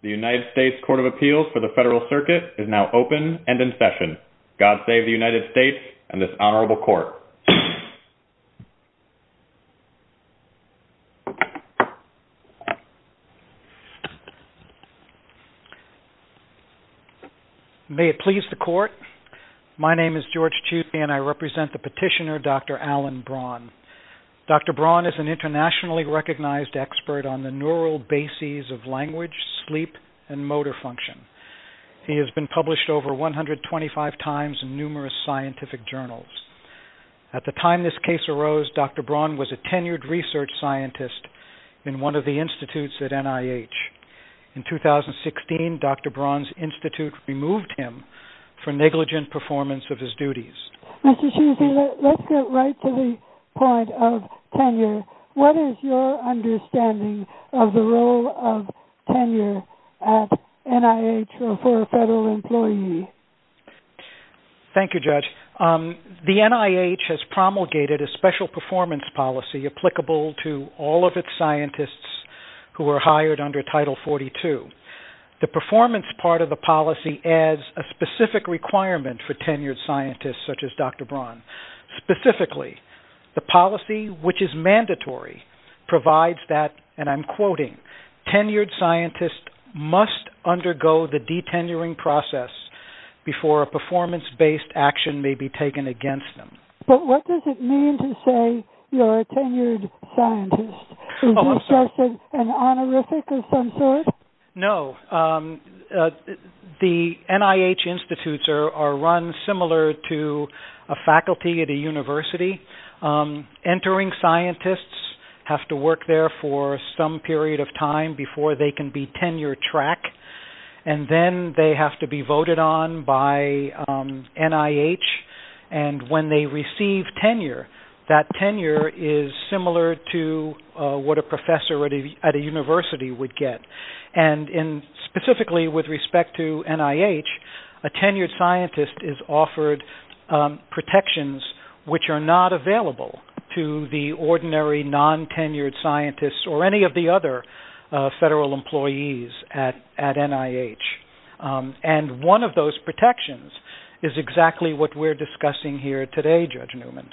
The United States Court of Appeals for the Federal Circuit is now open and in session. God save the United States and this Honorable Court. May it please the Court. My name is George Chutney and I represent the petitioner Dr. Alan Braun. Dr. Braun is an internationally recognized expert on the neural bases of language, sleep, and motor function. He has been published over 125 times in numerous scientific journals. At the time this case arose, Dr. Braun was a tenured research scientist in one of the institutes at NIH. In 2016, Dr. Braun's institute removed him for negligent performance of his duties. Mr. Chutney, let's get right to the point of tenure. What is your understanding of the role of tenure at NIH for a federal employee? Thank you, Judge. The NIH has promulgated a special performance policy applicable to all of its scientists who are hired under Title 42. The performance part of the policy adds a specific requirement for tenured scientists such as Dr. Braun. Specifically, the policy, which is mandatory, provides that, and I'm quoting, tenured scientists must undergo the detenuring process before a performance-based action may be taken against them. But what does it mean to say you're a tenured scientist? Is this just an honorific of some sort? No. The NIH institutes are run similar to a faculty at a university. Entering scientists have to work there for some period of time before they can be tenure-track, and then they have to be voted on by NIH. And when they receive tenure, that tenure is similar to what a professor at a university would get. And specifically with respect to NIH, a tenured scientist is offered protections which are not available to the ordinary non-tenured scientists or any of the other federal employees at NIH. And one of those protections is exactly what we're discussing here today, Judge Newman.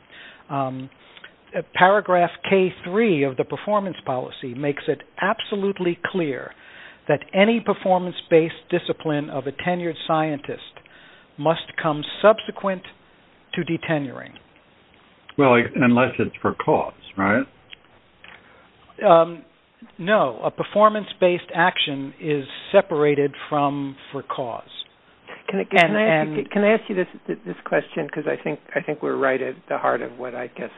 Paragraph K-3 of the performance policy makes it absolutely clear that any performance-based discipline of a tenured scientist must come subsequent to detenuring. Well, unless it's for cause, right? No. A performance-based action is separated from for cause. Can I ask you this question? Because I think we're right at the heart of what I guess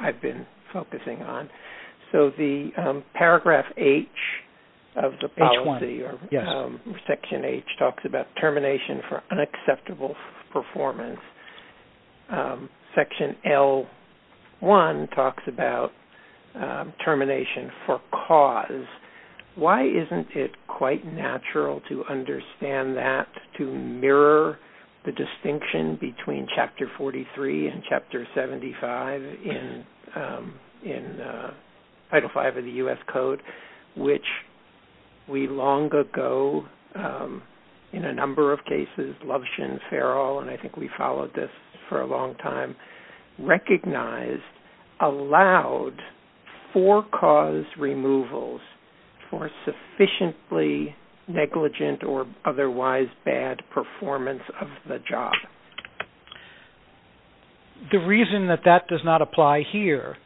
I've been focusing on. So the paragraph H of the policy, or Section H, talks about termination for unacceptable performance. Section L1 talks about termination for cause. Why isn't it quite natural to understand that, to mirror the distinction between Chapter 43 and Chapter 75 in Title V of the U.S. Code, which we long ago, in a number of cases, Lovshin, Farrell, and I think we followed this for a long time, recognized allowed for-cause removals for sufficiently negligent or otherwise bad performance of the job? The reason that that does not apply here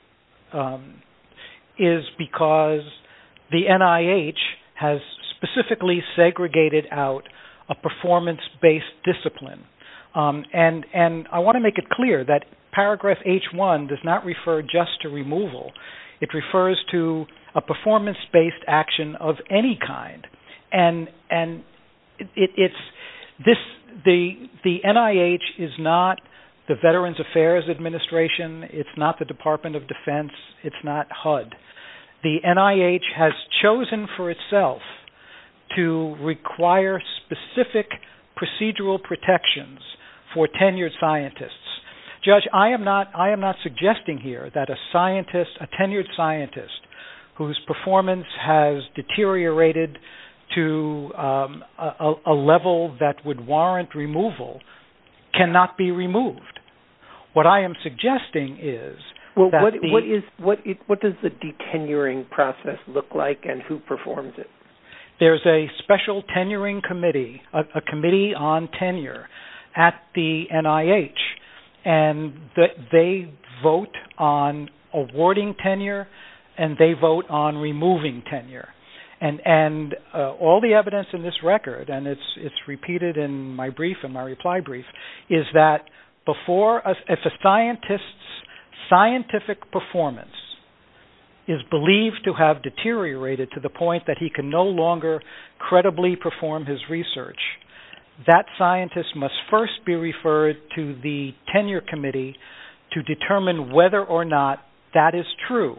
is because the NIH has specifically segregated out a performance-based discipline. And I want to make it clear that paragraph H1 does not refer just to removal. It refers to a performance-based action of any kind. And the NIH is not the Veterans Affairs Administration. It's not the Department of Defense. It's not HUD. The NIH has chosen for itself to require specific procedural protections for tenured scientists. Judge, I am not suggesting here that a scientist, a tenured scientist, whose performance has deteriorated to a level that would warrant removal cannot be removed. What I am suggesting is that the- What does the detenuring process look like and who performs it? There's a special tenuring committee, a committee on tenure at the NIH, and they vote on awarding tenure and they vote on removing tenure. And all the evidence in this record, and it's repeated in my brief and my reply brief, is that if a scientist's scientific performance is believed to have deteriorated to the point that he can no longer credibly perform his research, that scientist must first be referred to the tenure committee to determine whether or not that is true.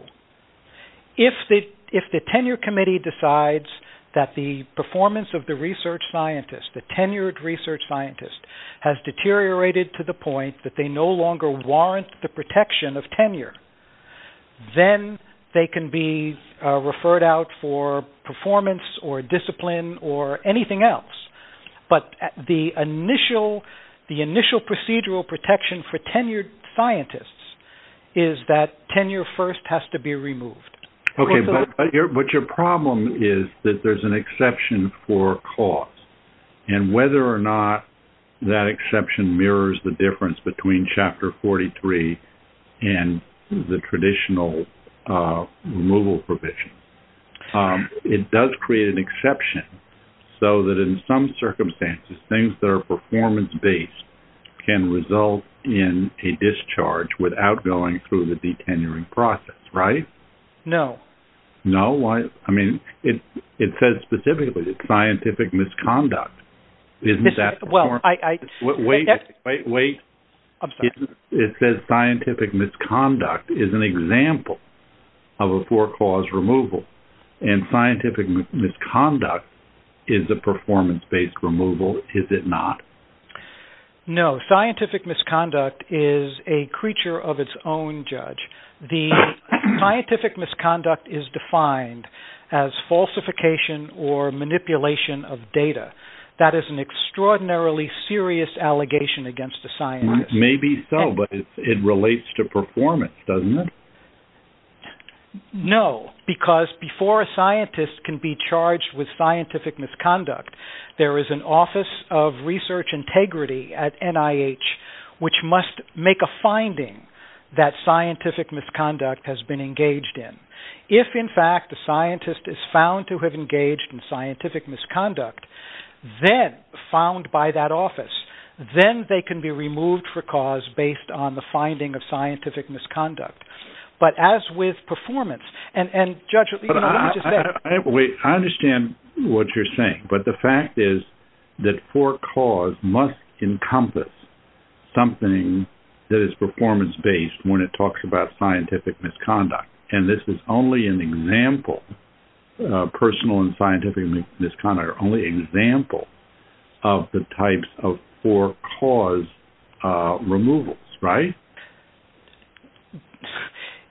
If the tenure committee decides that the performance of the research scientist, the tenured research scientist, has deteriorated to the point that they no longer warrant the protection of tenure, then they can be referred out for performance or discipline or anything else. But the initial procedural protection for tenured scientists is that tenure first has to be removed. Okay, but your problem is that there's an exception for cost. And whether or not that exception mirrors the difference between Chapter 43 and the traditional removal provision, it does create an exception so that in some circumstances things that are performance-based can result in a discharge without going through the detenuring process, right? No. No? I mean, it says specifically that scientific misconduct isn't that performance- Well, I- Wait, wait, wait. I'm sorry. It says scientific misconduct is an example of a four-cause removal. And scientific misconduct is a performance-based removal, is it not? No. Scientific misconduct is a creature of its own, Judge. The scientific misconduct is defined as falsification or manipulation of data. That is an extraordinarily serious allegation against a scientist. Maybe so, but it relates to performance, doesn't it? No, because before a scientist can be charged with scientific misconduct, there is an Office of Research Integrity at NIH, which must make a finding that scientific misconduct has been engaged in. If, in fact, a scientist is found to have engaged in scientific misconduct, then found by that office, then they can be removed for cause based on the finding of scientific misconduct. But as with performance, and, Judge, what do you have to say? Wait, I understand what you're saying. But the fact is that for cause must encompass something that is performance-based when it talks about scientific misconduct. And this is only an example, personal and scientific misconduct, only an example of the types of for-cause removals, right?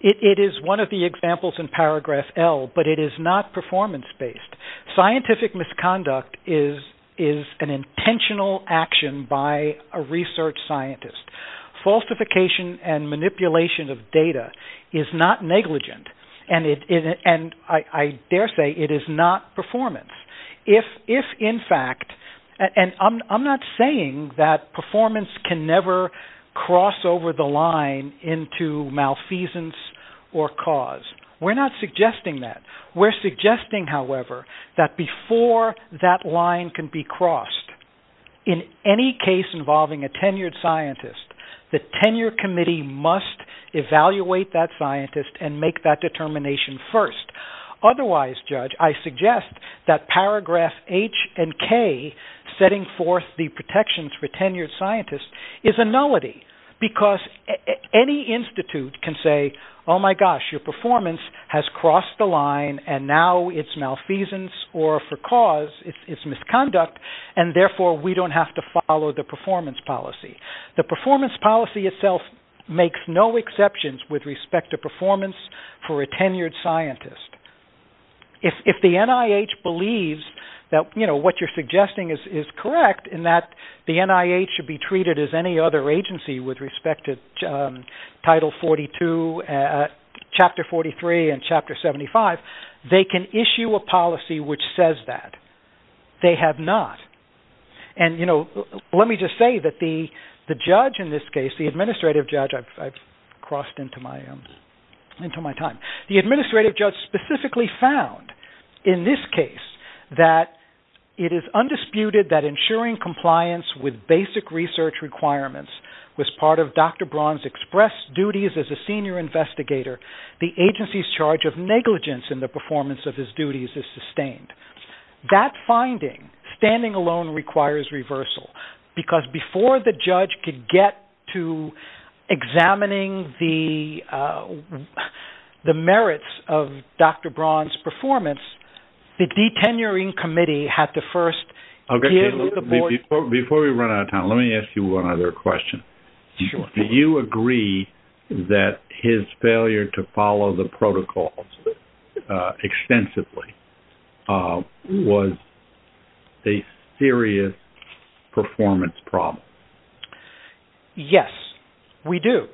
It is one of the examples in paragraph L, but it is not performance-based. Scientific misconduct is an intentional action by a research scientist. Falsification and manipulation of data is not negligent, and I dare say it is not performance. If, in fact, and I'm not saying that performance can never cross over the line into malfeasance or cause, we're not suggesting that. We're suggesting, however, that before that line can be crossed, in any case involving a tenured scientist, the tenure committee must evaluate that scientist and make that determination first. Otherwise, Judge, I suggest that paragraph H and K, setting forth the protections for tenured scientists, is a nullity because any institute can say, oh, my gosh, your performance has crossed the line and now it's malfeasance or for cause it's misconduct, and therefore we don't have to follow the performance policy. The performance policy itself makes no exceptions with respect to performance for a tenured scientist. If the NIH believes that, you know, what you're suggesting is correct in that the NIH should be treated as any other agency with respect to Title 42, Chapter 43, and Chapter 75, they can issue a policy which says that. They have not. And, you know, let me just say that the judge in this case, the administrative judge, I've crossed into my time, the administrative judge specifically found in this case that it is undisputed that ensuring compliance with basic research requirements was part of Dr. Braun's express duties as a senior investigator. The agency's charge of negligence in the performance of his duties is sustained. That finding, standing alone, requires reversal because before the judge could get to examining the merits of Dr. Braun's performance, the detenuring committee had to first deal with the board. Before we run out of time, let me ask you one other question. Sure. Do you agree that his failure to follow the protocols extensively was a serious performance problem? Yes, we do.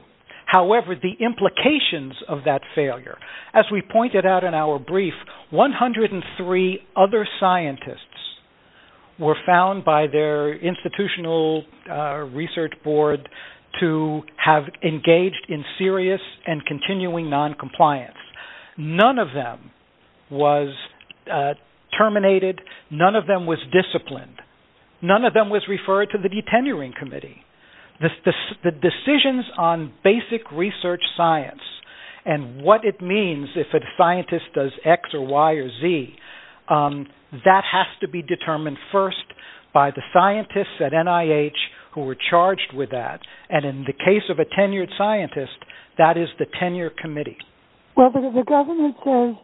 However, the implications of that failure, as we pointed out in our brief, 103 other scientists were found by their institutional research board to have engaged in serious and continuing noncompliance. None of them was terminated. None of them was disciplined. None of them was referred to the detenuring committee. The decisions on basic research science and what it means if a scientist does X or Y or Z, that has to be determined first by the scientists at NIH who are charged with that. And in the case of a tenured scientist, that is the tenure committee. Well, the government says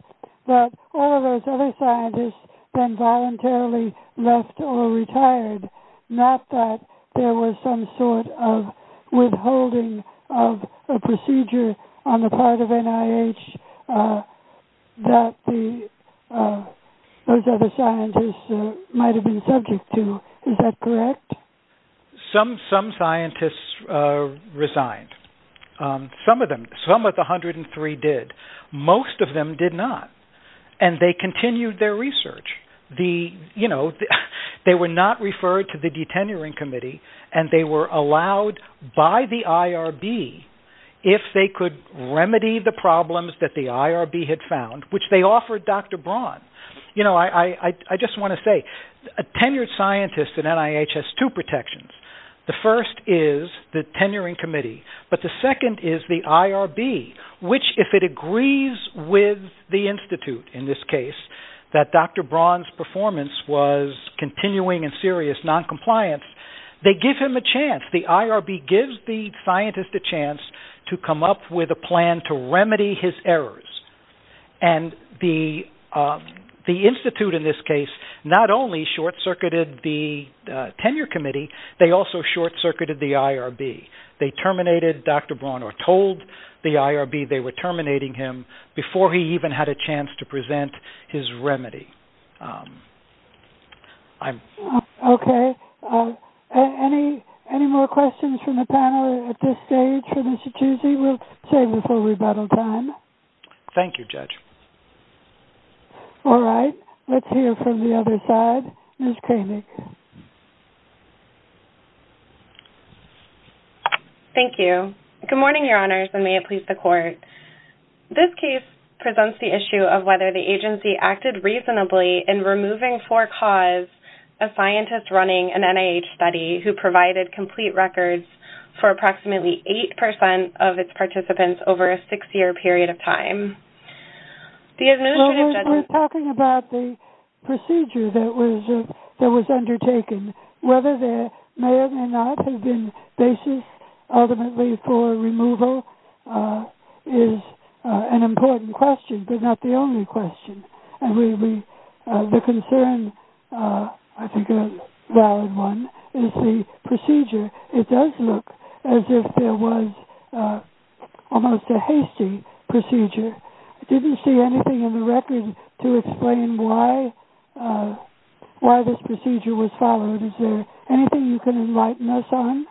that all of those other scientists then voluntarily left or retired, not that there was some sort of withholding of a procedure on the part of NIH that those other scientists might have been subject to. Is that correct? Some scientists resigned. Some of them. Some of the 103 did. Most of them did not, and they continued their research. They were not referred to the detenuring committee, and they were allowed by the IRB if they could remedy the problems that the IRB had found, which they offered Dr. Braun. I just want to say, a tenured scientist at NIH has two protections. The first is the tenuring committee, but the second is the IRB, which if it agrees with the institute, in this case, that Dr. Braun's performance was continuing and serious noncompliance, they give him a chance. The IRB gives the scientist a chance to come up with a plan to remedy his errors. And the institute, in this case, not only short-circuited the tenure committee, they also short-circuited the IRB. They terminated Dr. Braun or told the IRB they were terminating him before he even had a chance to present his remedy. Okay. Any more questions from the panel at this stage from Massachusetts? We'll save this for rebuttal time. Thank you, Judge. All right. Let's hear from the other side. Ms. Kramick. Thank you. Good morning, Your Honors, and may it please the Court. This case presents the issue of whether the agency acted reasonably in removing for cause a scientist running an NIH study who provided complete records for approximately 8% of its participants over a six-year period of time. We're talking about the procedure that was undertaken. Whether there may or may not have been basis ultimately for removal is an important question, but not the only question. And the concern, I think a valid one, is the procedure. It does look as if there was almost a hasty procedure. I didn't see anything in the record to explain why this procedure was followed. Is there anything you can enlighten us on?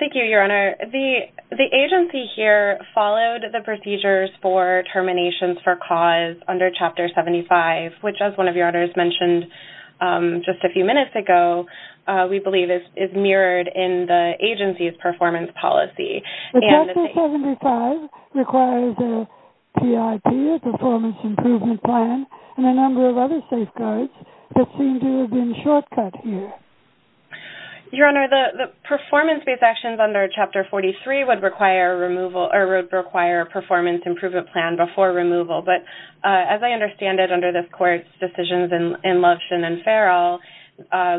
Thank you, Your Honor. The agency here followed the procedures for terminations for cause under Chapter 75, which as one of Your Honors mentioned just a few minutes ago, we believe is mirrored in the agency's performance policy. Chapter 75 requires a PIP, a performance improvement plan, and a number of other safeguards that seem to have been shortcut here. Your Honor, the performance-based actions under Chapter 43 would require a performance improvement plan before removal. But as I understand it under this Court's decisions in Lovshin and Farrell,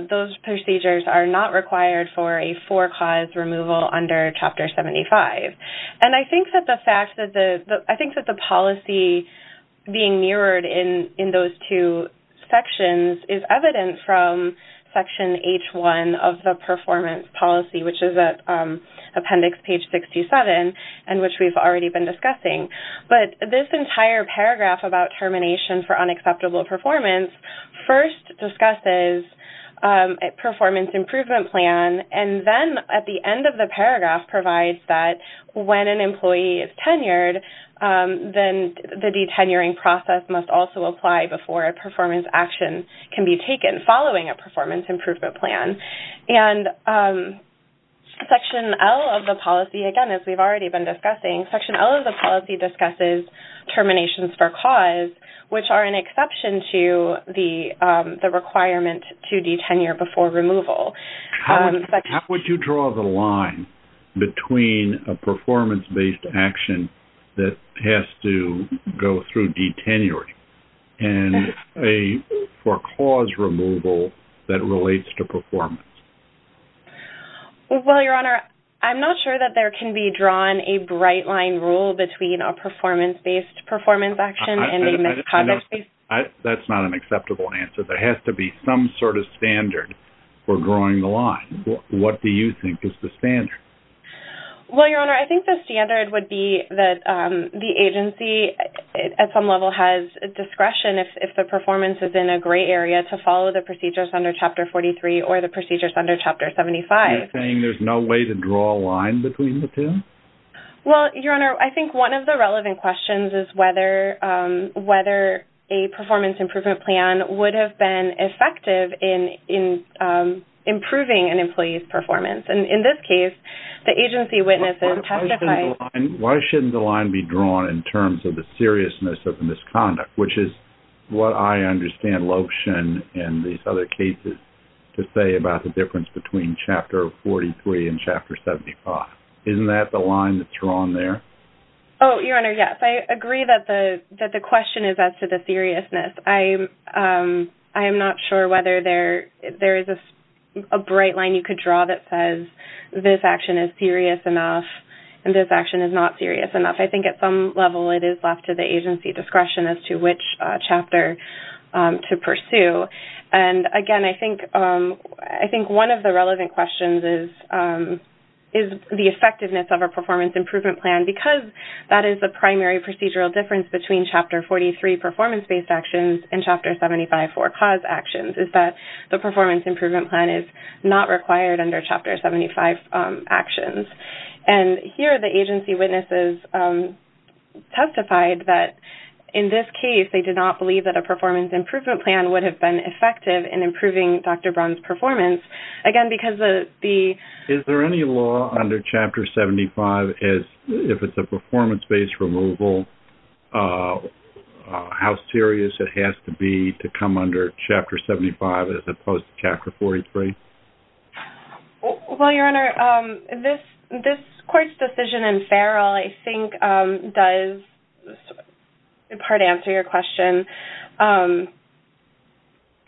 those procedures are not required for a for-cause removal under Chapter 75. And I think that the policy being mirrored in those two sections is evident from Section H1 of the performance policy, which is at Appendix Page 627 and which we've already been discussing. But this entire paragraph about termination for unacceptable performance first discusses a performance improvement plan, and then at the end of the paragraph provides that when an employee is tenured, then the detenuring process must also apply before a performance action can be taken following a performance improvement plan. And Section L of the policy, again, as we've already been discussing, Section L of the policy discusses terminations for cause, which are an exception to the requirement to detenure before removal. How would you draw the line between a performance-based action that has to go through detenuring and a for-cause removal that relates to performance? Well, Your Honor, I'm not sure that there can be drawn a bright-line rule between a performance-based performance action and a misconduct-based. That's not an acceptable answer. There has to be some sort of standard for drawing the line. What do you think is the standard? Well, Your Honor, I think the standard would be that the agency at some level has discretion, if the performance is in a gray area, to follow the procedures under Chapter 43 or the procedures under Chapter 75. You're saying there's no way to draw a line between the two? Well, Your Honor, I think one of the relevant questions is whether a performance improvement plan would have been effective in improving an employee's performance. And in this case, the agency witnesses testified... Why shouldn't the line be drawn in terms of the seriousness of the misconduct, which is what I understand Loesch and these other cases to say about the difference between Chapter 43 and Chapter 75? Isn't that the line that's drawn there? Oh, Your Honor, yes. I agree that the question is as to the seriousness. I am not sure whether there is a bright line you could draw that says this action is serious enough and this action is not serious enough. I think at some level, it is left to the agency discretion as to which chapter to pursue. And again, I think one of the relevant questions is the effectiveness of a performance improvement plan. And because that is the primary procedural difference between Chapter 43 performance-based actions and Chapter 75 for-cause actions is that the performance improvement plan is not required under Chapter 75 actions. And here, the agency witnesses testified that in this case, they did not believe that a performance improvement plan would have been effective in improving Dr. Brown's performance. Is there any law under Chapter 75, if it's a performance-based removal, how serious it has to be to come under Chapter 75 as opposed to Chapter 43? Well, Your Honor, this court's decision in Farrell, I think, does in part answer your question.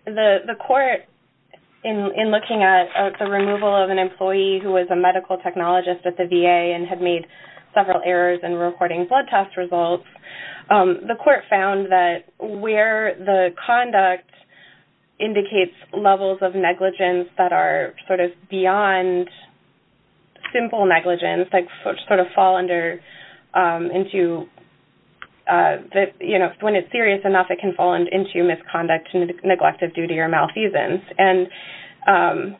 The court, in looking at the removal of an employee who was a medical technologist at the VA and had made several errors in recording blood test results, the court found that where the conduct indicates levels of negligence that are sort of beyond simple negligence, that when it's serious enough, it can fall into misconduct, neglect of duty, or malfeasance. And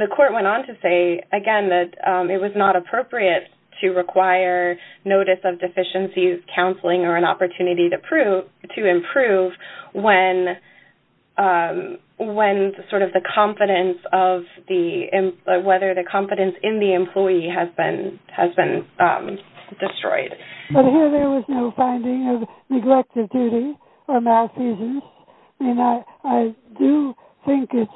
the court went on to say, again, that it was not appropriate to require notice of deficiencies, counseling, or an opportunity to improve when sort of the confidence of the employee, the employee has been destroyed. But here there was no finding of neglect of duty or malfeasance. I mean, I do think it's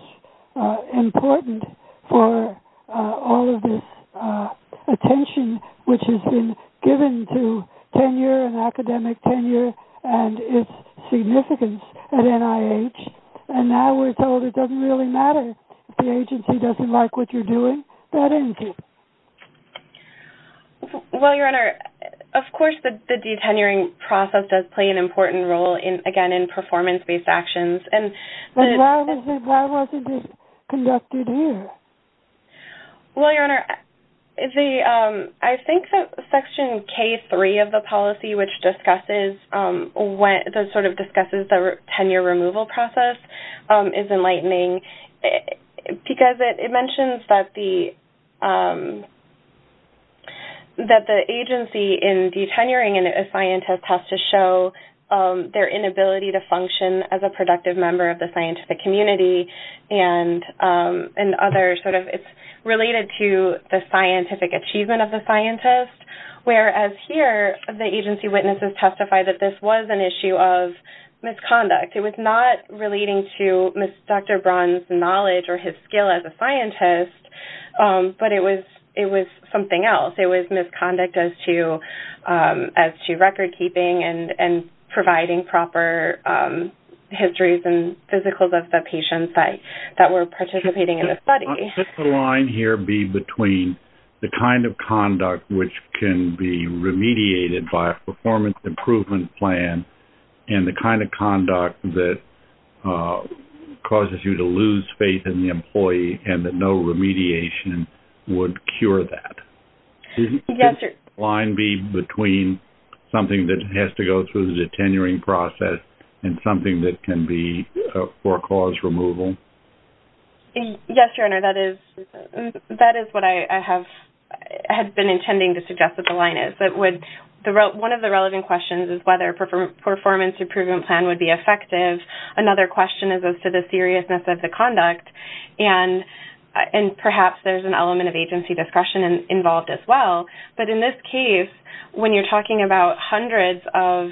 important for all of this attention, which has been given to tenure and academic tenure and its significance at NIH, and now we're told it doesn't really matter if the agency doesn't like what you're doing. That ends it. Well, Your Honor, of course the detenuring process does play an important role, again, in performance-based actions. But why wasn't it conducted here? Well, Your Honor, I think that Section K3 of the policy, which sort of discusses the tenure removal process, is enlightening, because it mentions that the agency in detenuring a scientist has to show their inability to function as a productive member of the scientific community and others. It's related to the scientific achievement of the scientist, whereas here the agency witnesses testify that this was an issue of misconduct. It was not relating to Dr. Braun's knowledge or his skill as a scientist, but it was something else. It was misconduct as to record-keeping and providing proper histories and physicals of the patients that were participating in the study. Could the line here be between the kind of conduct which can be remediated by a performance improvement plan and the kind of conduct that causes you to lose faith in the employee and that no remediation would cure that? Yes, Your Honor. Could the line be between something that has to go through the detenuring process and something that can be for cause removal? Yes, Your Honor, that is what I have been intending to suggest that the line is. One of the relevant questions is whether a performance improvement plan would be effective. Another question is as to the seriousness of the conduct, and perhaps there's an element of agency discretion involved as well. But in this case, when you're talking about hundreds of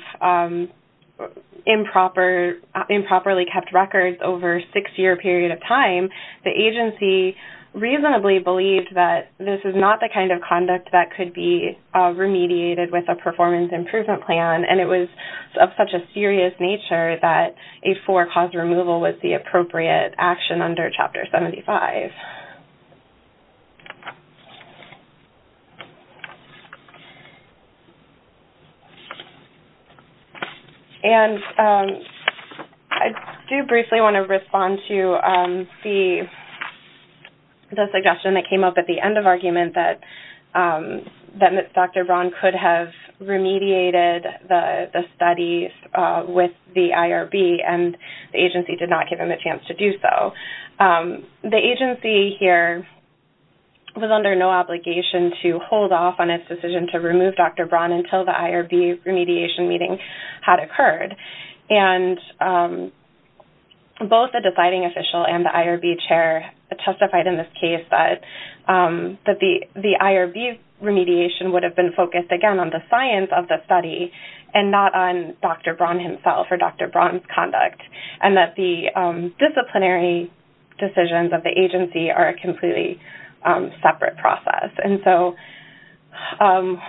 improperly kept records over a six-year period of time, the agency reasonably believed that this is not the kind of conduct that could be remediated with a performance improvement plan, and it was of such a serious nature that a for-cause removal was the appropriate action under Chapter 75. And I do briefly want to respond to the suggestion that came up at the end of argument that Dr. Braun could have remediated the studies with the IRB, and the agency did not give him a chance to do so. The agency here was under no obligation to hold off on its decision to remove Dr. Braun until the IRB remediation meeting had occurred, and both the deciding official and the IRB chair testified in this case that the IRB remediation would have been focused, again, on the science of the study and not on Dr. Braun himself or Dr. Braun's conduct, and that the disciplinary decisions of the agency are a completely separate process. Can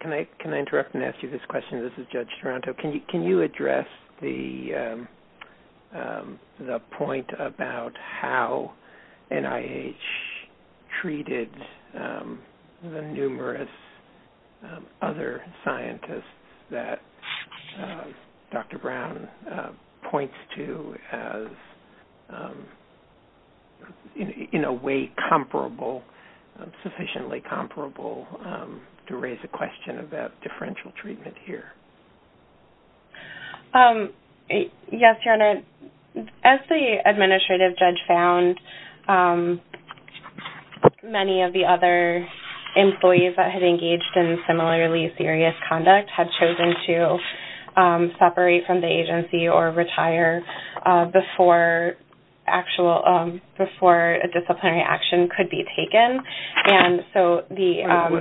I interrupt and ask you this question? This is Judge Taranto. Can you address the point about how NIH treated the numerous other scientists that Dr. Braun points to as, in a way, sufficiently comparable to raise a question about differential treatment here? Yes, Your Honor. As the administrative judge found, many of the other employees that had engaged in similarly serious conduct had chosen to separate from the agency or retire before a disciplinary action could be taken.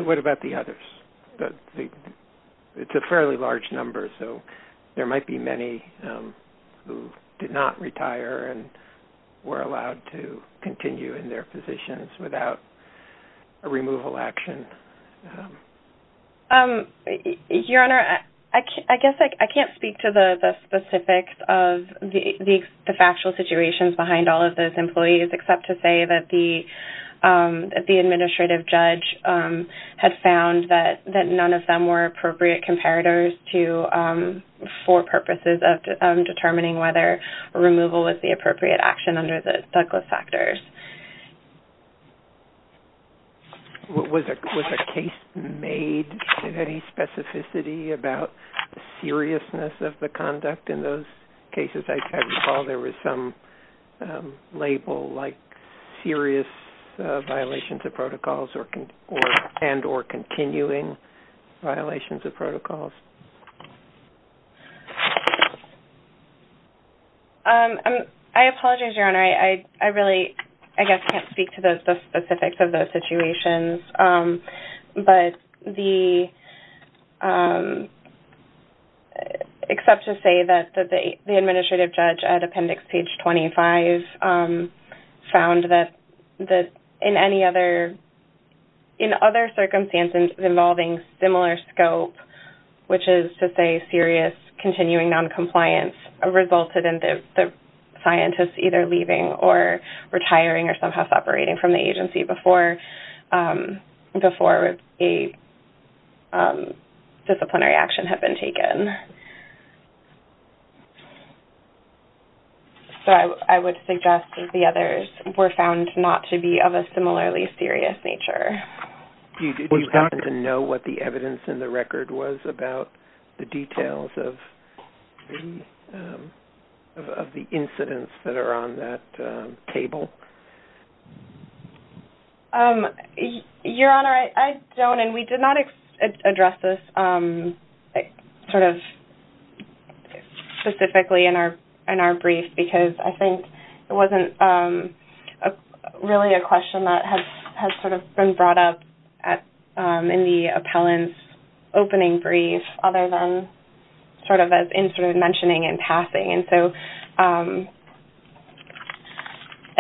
What about the others? It's a fairly large number, so there might be many who did not retire and were allowed to continue in their positions without a removal action. Your Honor, I guess I can't speak to the specifics of the factual situations behind all of those employees, except to say that the administrative judge had found that none of them were appropriate comparators for purposes of determining whether removal was the appropriate action under the Douglas factors. Was a case made of any specificity about seriousness of the conduct in those cases? I recall there was some label like serious violations of protocols and or continuing violations of protocols. I apologize, Your Honor. I really, I guess, can't speak to the specifics of those situations, except to say that the administrative judge at Appendix Page 25 found that in other circumstances involving similar scope, which is to say serious continuing noncompliance, resulted in the scientist either leaving or retiring or somehow separating from the agency before a disciplinary action had been taken. So I would suggest that the others were found not to be of a similarly serious nature. Do you happen to know what the evidence in the record was about the details of the incidents that are on that table? Your Honor, I don't. And we did not address this sort of specifically in our brief, because I think it wasn't really a question that has sort of been brought up in the appellant's opening brief other than sort of as in sort of mentioning and passing. And so,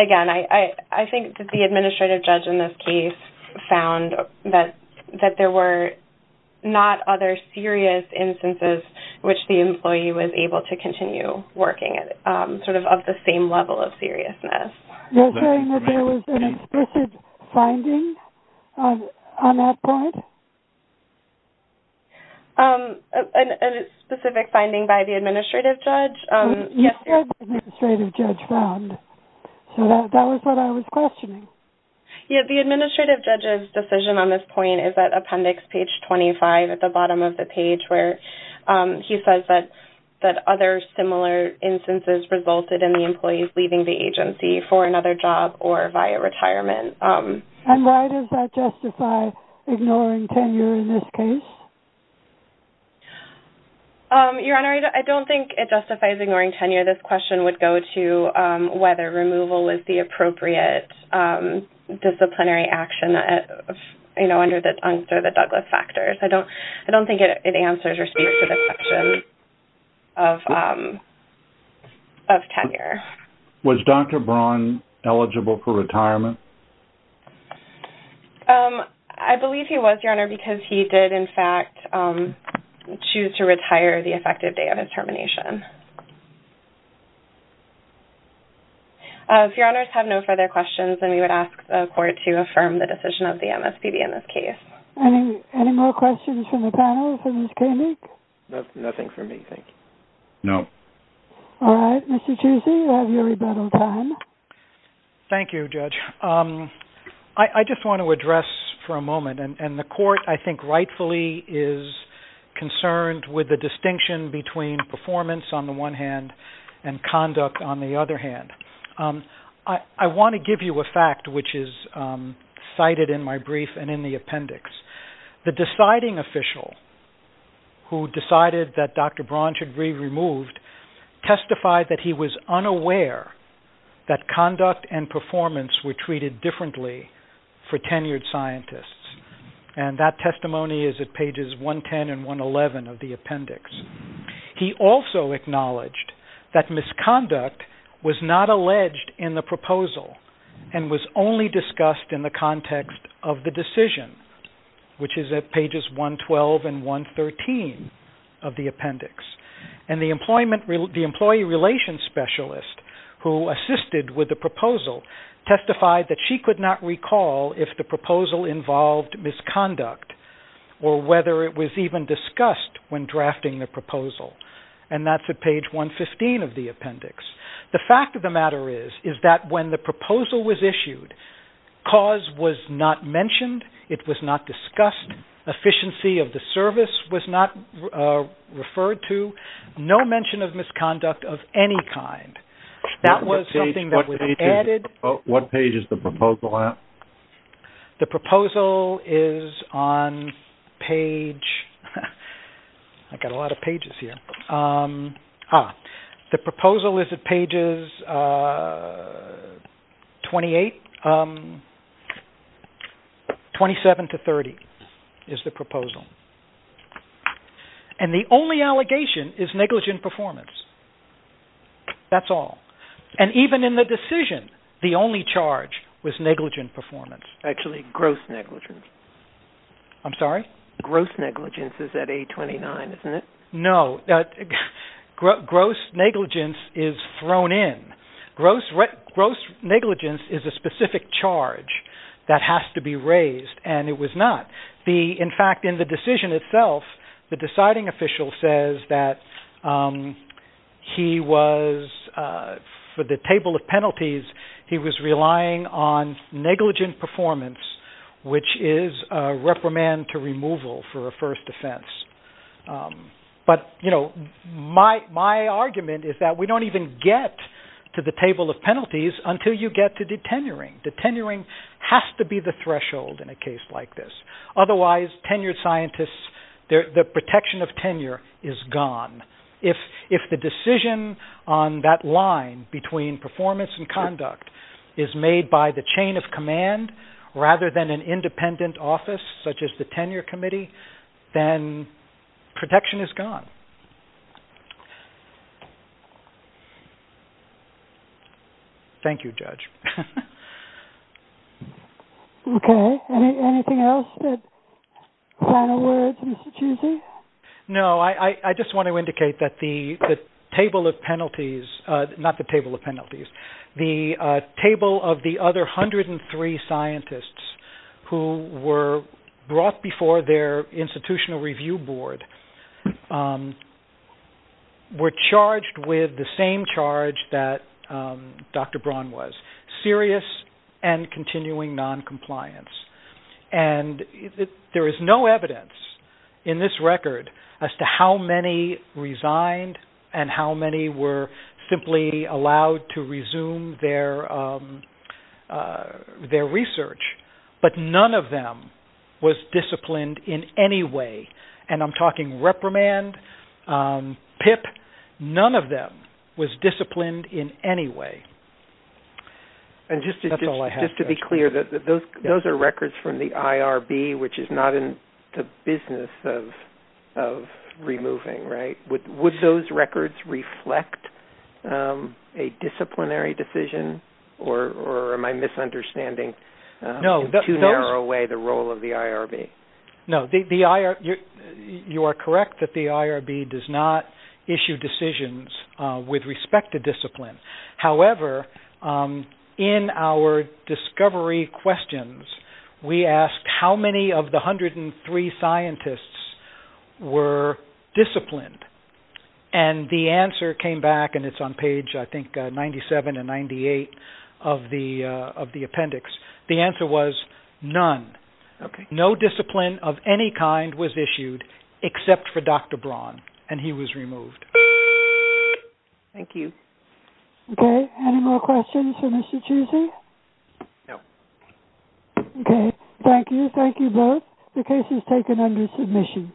again, I think that the administrative judge in this case found that there were not other serious instances in which the employee was able to continue working sort of at the same level of seriousness. You're saying that there was an explicit finding on that point? A specific finding by the administrative judge? Yes, the administrative judge found. So that was what I was questioning. Yes, the administrative judge's decision on this point is at Appendix Page 25 at the bottom of the page where he says that other similar instances resulted in the employees leaving the agency for another job or via retirement. And why does that justify ignoring tenure in this case? Your Honor, I don't think it justifies ignoring tenure. This question would go to whether removal is the appropriate disciplinary action under the Dunst or the Douglas factors. I don't think it answers or speaks to the question of tenure. Was Dr. Braun eligible for retirement? I believe he was, Your Honor, because he did, in fact, choose to retire the effective day of his termination. If Your Honors have no further questions, then we would ask the Court to affirm the decision of the MSPB in this case. Any more questions from the panel for Ms. Koenig? Nothing for me, thank you. No. All right, Mr. Chusey, you have your rebuttal time. Thank you, Judge. I just want to address for a moment, and the Court, I think, rightfully is concerned with the distinction between performance on the one hand and conduct on the other hand. I want to give you a fact which is cited in my brief and in the appendix. The deciding official who decided that Dr. Braun should be removed testified that he was unaware that conduct and performance were treated differently for tenured scientists. And that testimony is at pages 110 and 111 of the appendix. He also acknowledged that misconduct was not alleged in the proposal and was only discussed in the context of the decision, which is at pages 112 and 113 of the appendix. And the employee relations specialist who assisted with the proposal testified that she could not recall if the proposal involved misconduct or whether it was even discussed when drafting the proposal. And that's at page 115 of the appendix. The fact of the matter is that when the proposal was issued, cause was not mentioned. It was not discussed. Efficiency of the service was not referred to. No mention of misconduct of any kind. That was something that was added. What page is the proposal at? The proposal is on page... I've got a lot of pages here. The proposal is at pages 28, 27 to 30 is the proposal. And the only allegation is negligent performance. That's all. And even in the decision, the only charge was negligent performance. Actually, gross negligence. I'm sorry? Gross negligence is at 829, isn't it? No. Gross negligence is thrown in. Gross negligence is a specific charge that has to be raised, and it was not. In fact, in the decision itself, the deciding official says that he was, for the table of penalties, he was relying on negligent performance, which is a reprimand to removal for a first offense. But, you know, my argument is that we don't even get to the table of penalties until you get to the tenuring. The tenuring has to be the threshold in a case like this. Otherwise, tenured scientists, the protection of tenure is gone. If the decision on that line between performance and conduct is made by the chain of command, rather than an independent office such as the tenure committee, then protection is gone. Thank you, Judge. Okay. Anything else? Final words, Mr. Chusey? No. I just want to indicate that the table of penalties, not the table of penalties, the table of the other 103 scientists who were brought before their institutional review board were charged with the same charge that Dr. Braun was, serious and continuing noncompliance. And there is no evidence in this record as to how many resigned and how many were simply allowed to resume their research. But none of them was disciplined in any way. And I'm talking reprimand, PIP. None of them was disciplined in any way. And just to be clear, those are records from the IRB, which is not in the business of removing, right? Would those records reflect a disciplinary decision? Or am I misunderstanding in too narrow a way the role of the IRB? No. You are correct that the IRB does not issue decisions with respect to discipline. However, in our discovery questions, we asked how many of the 103 scientists were disciplined. And the answer came back, and it's on page, I think, 97 and 98 of the appendix. The answer was none. No discipline of any kind was issued except for Dr. Braun, and he was removed. Thank you. Okay. Any more questions for Mr. Cheesy? No. Okay. Thank you. Thank you both. The case is taken under submission.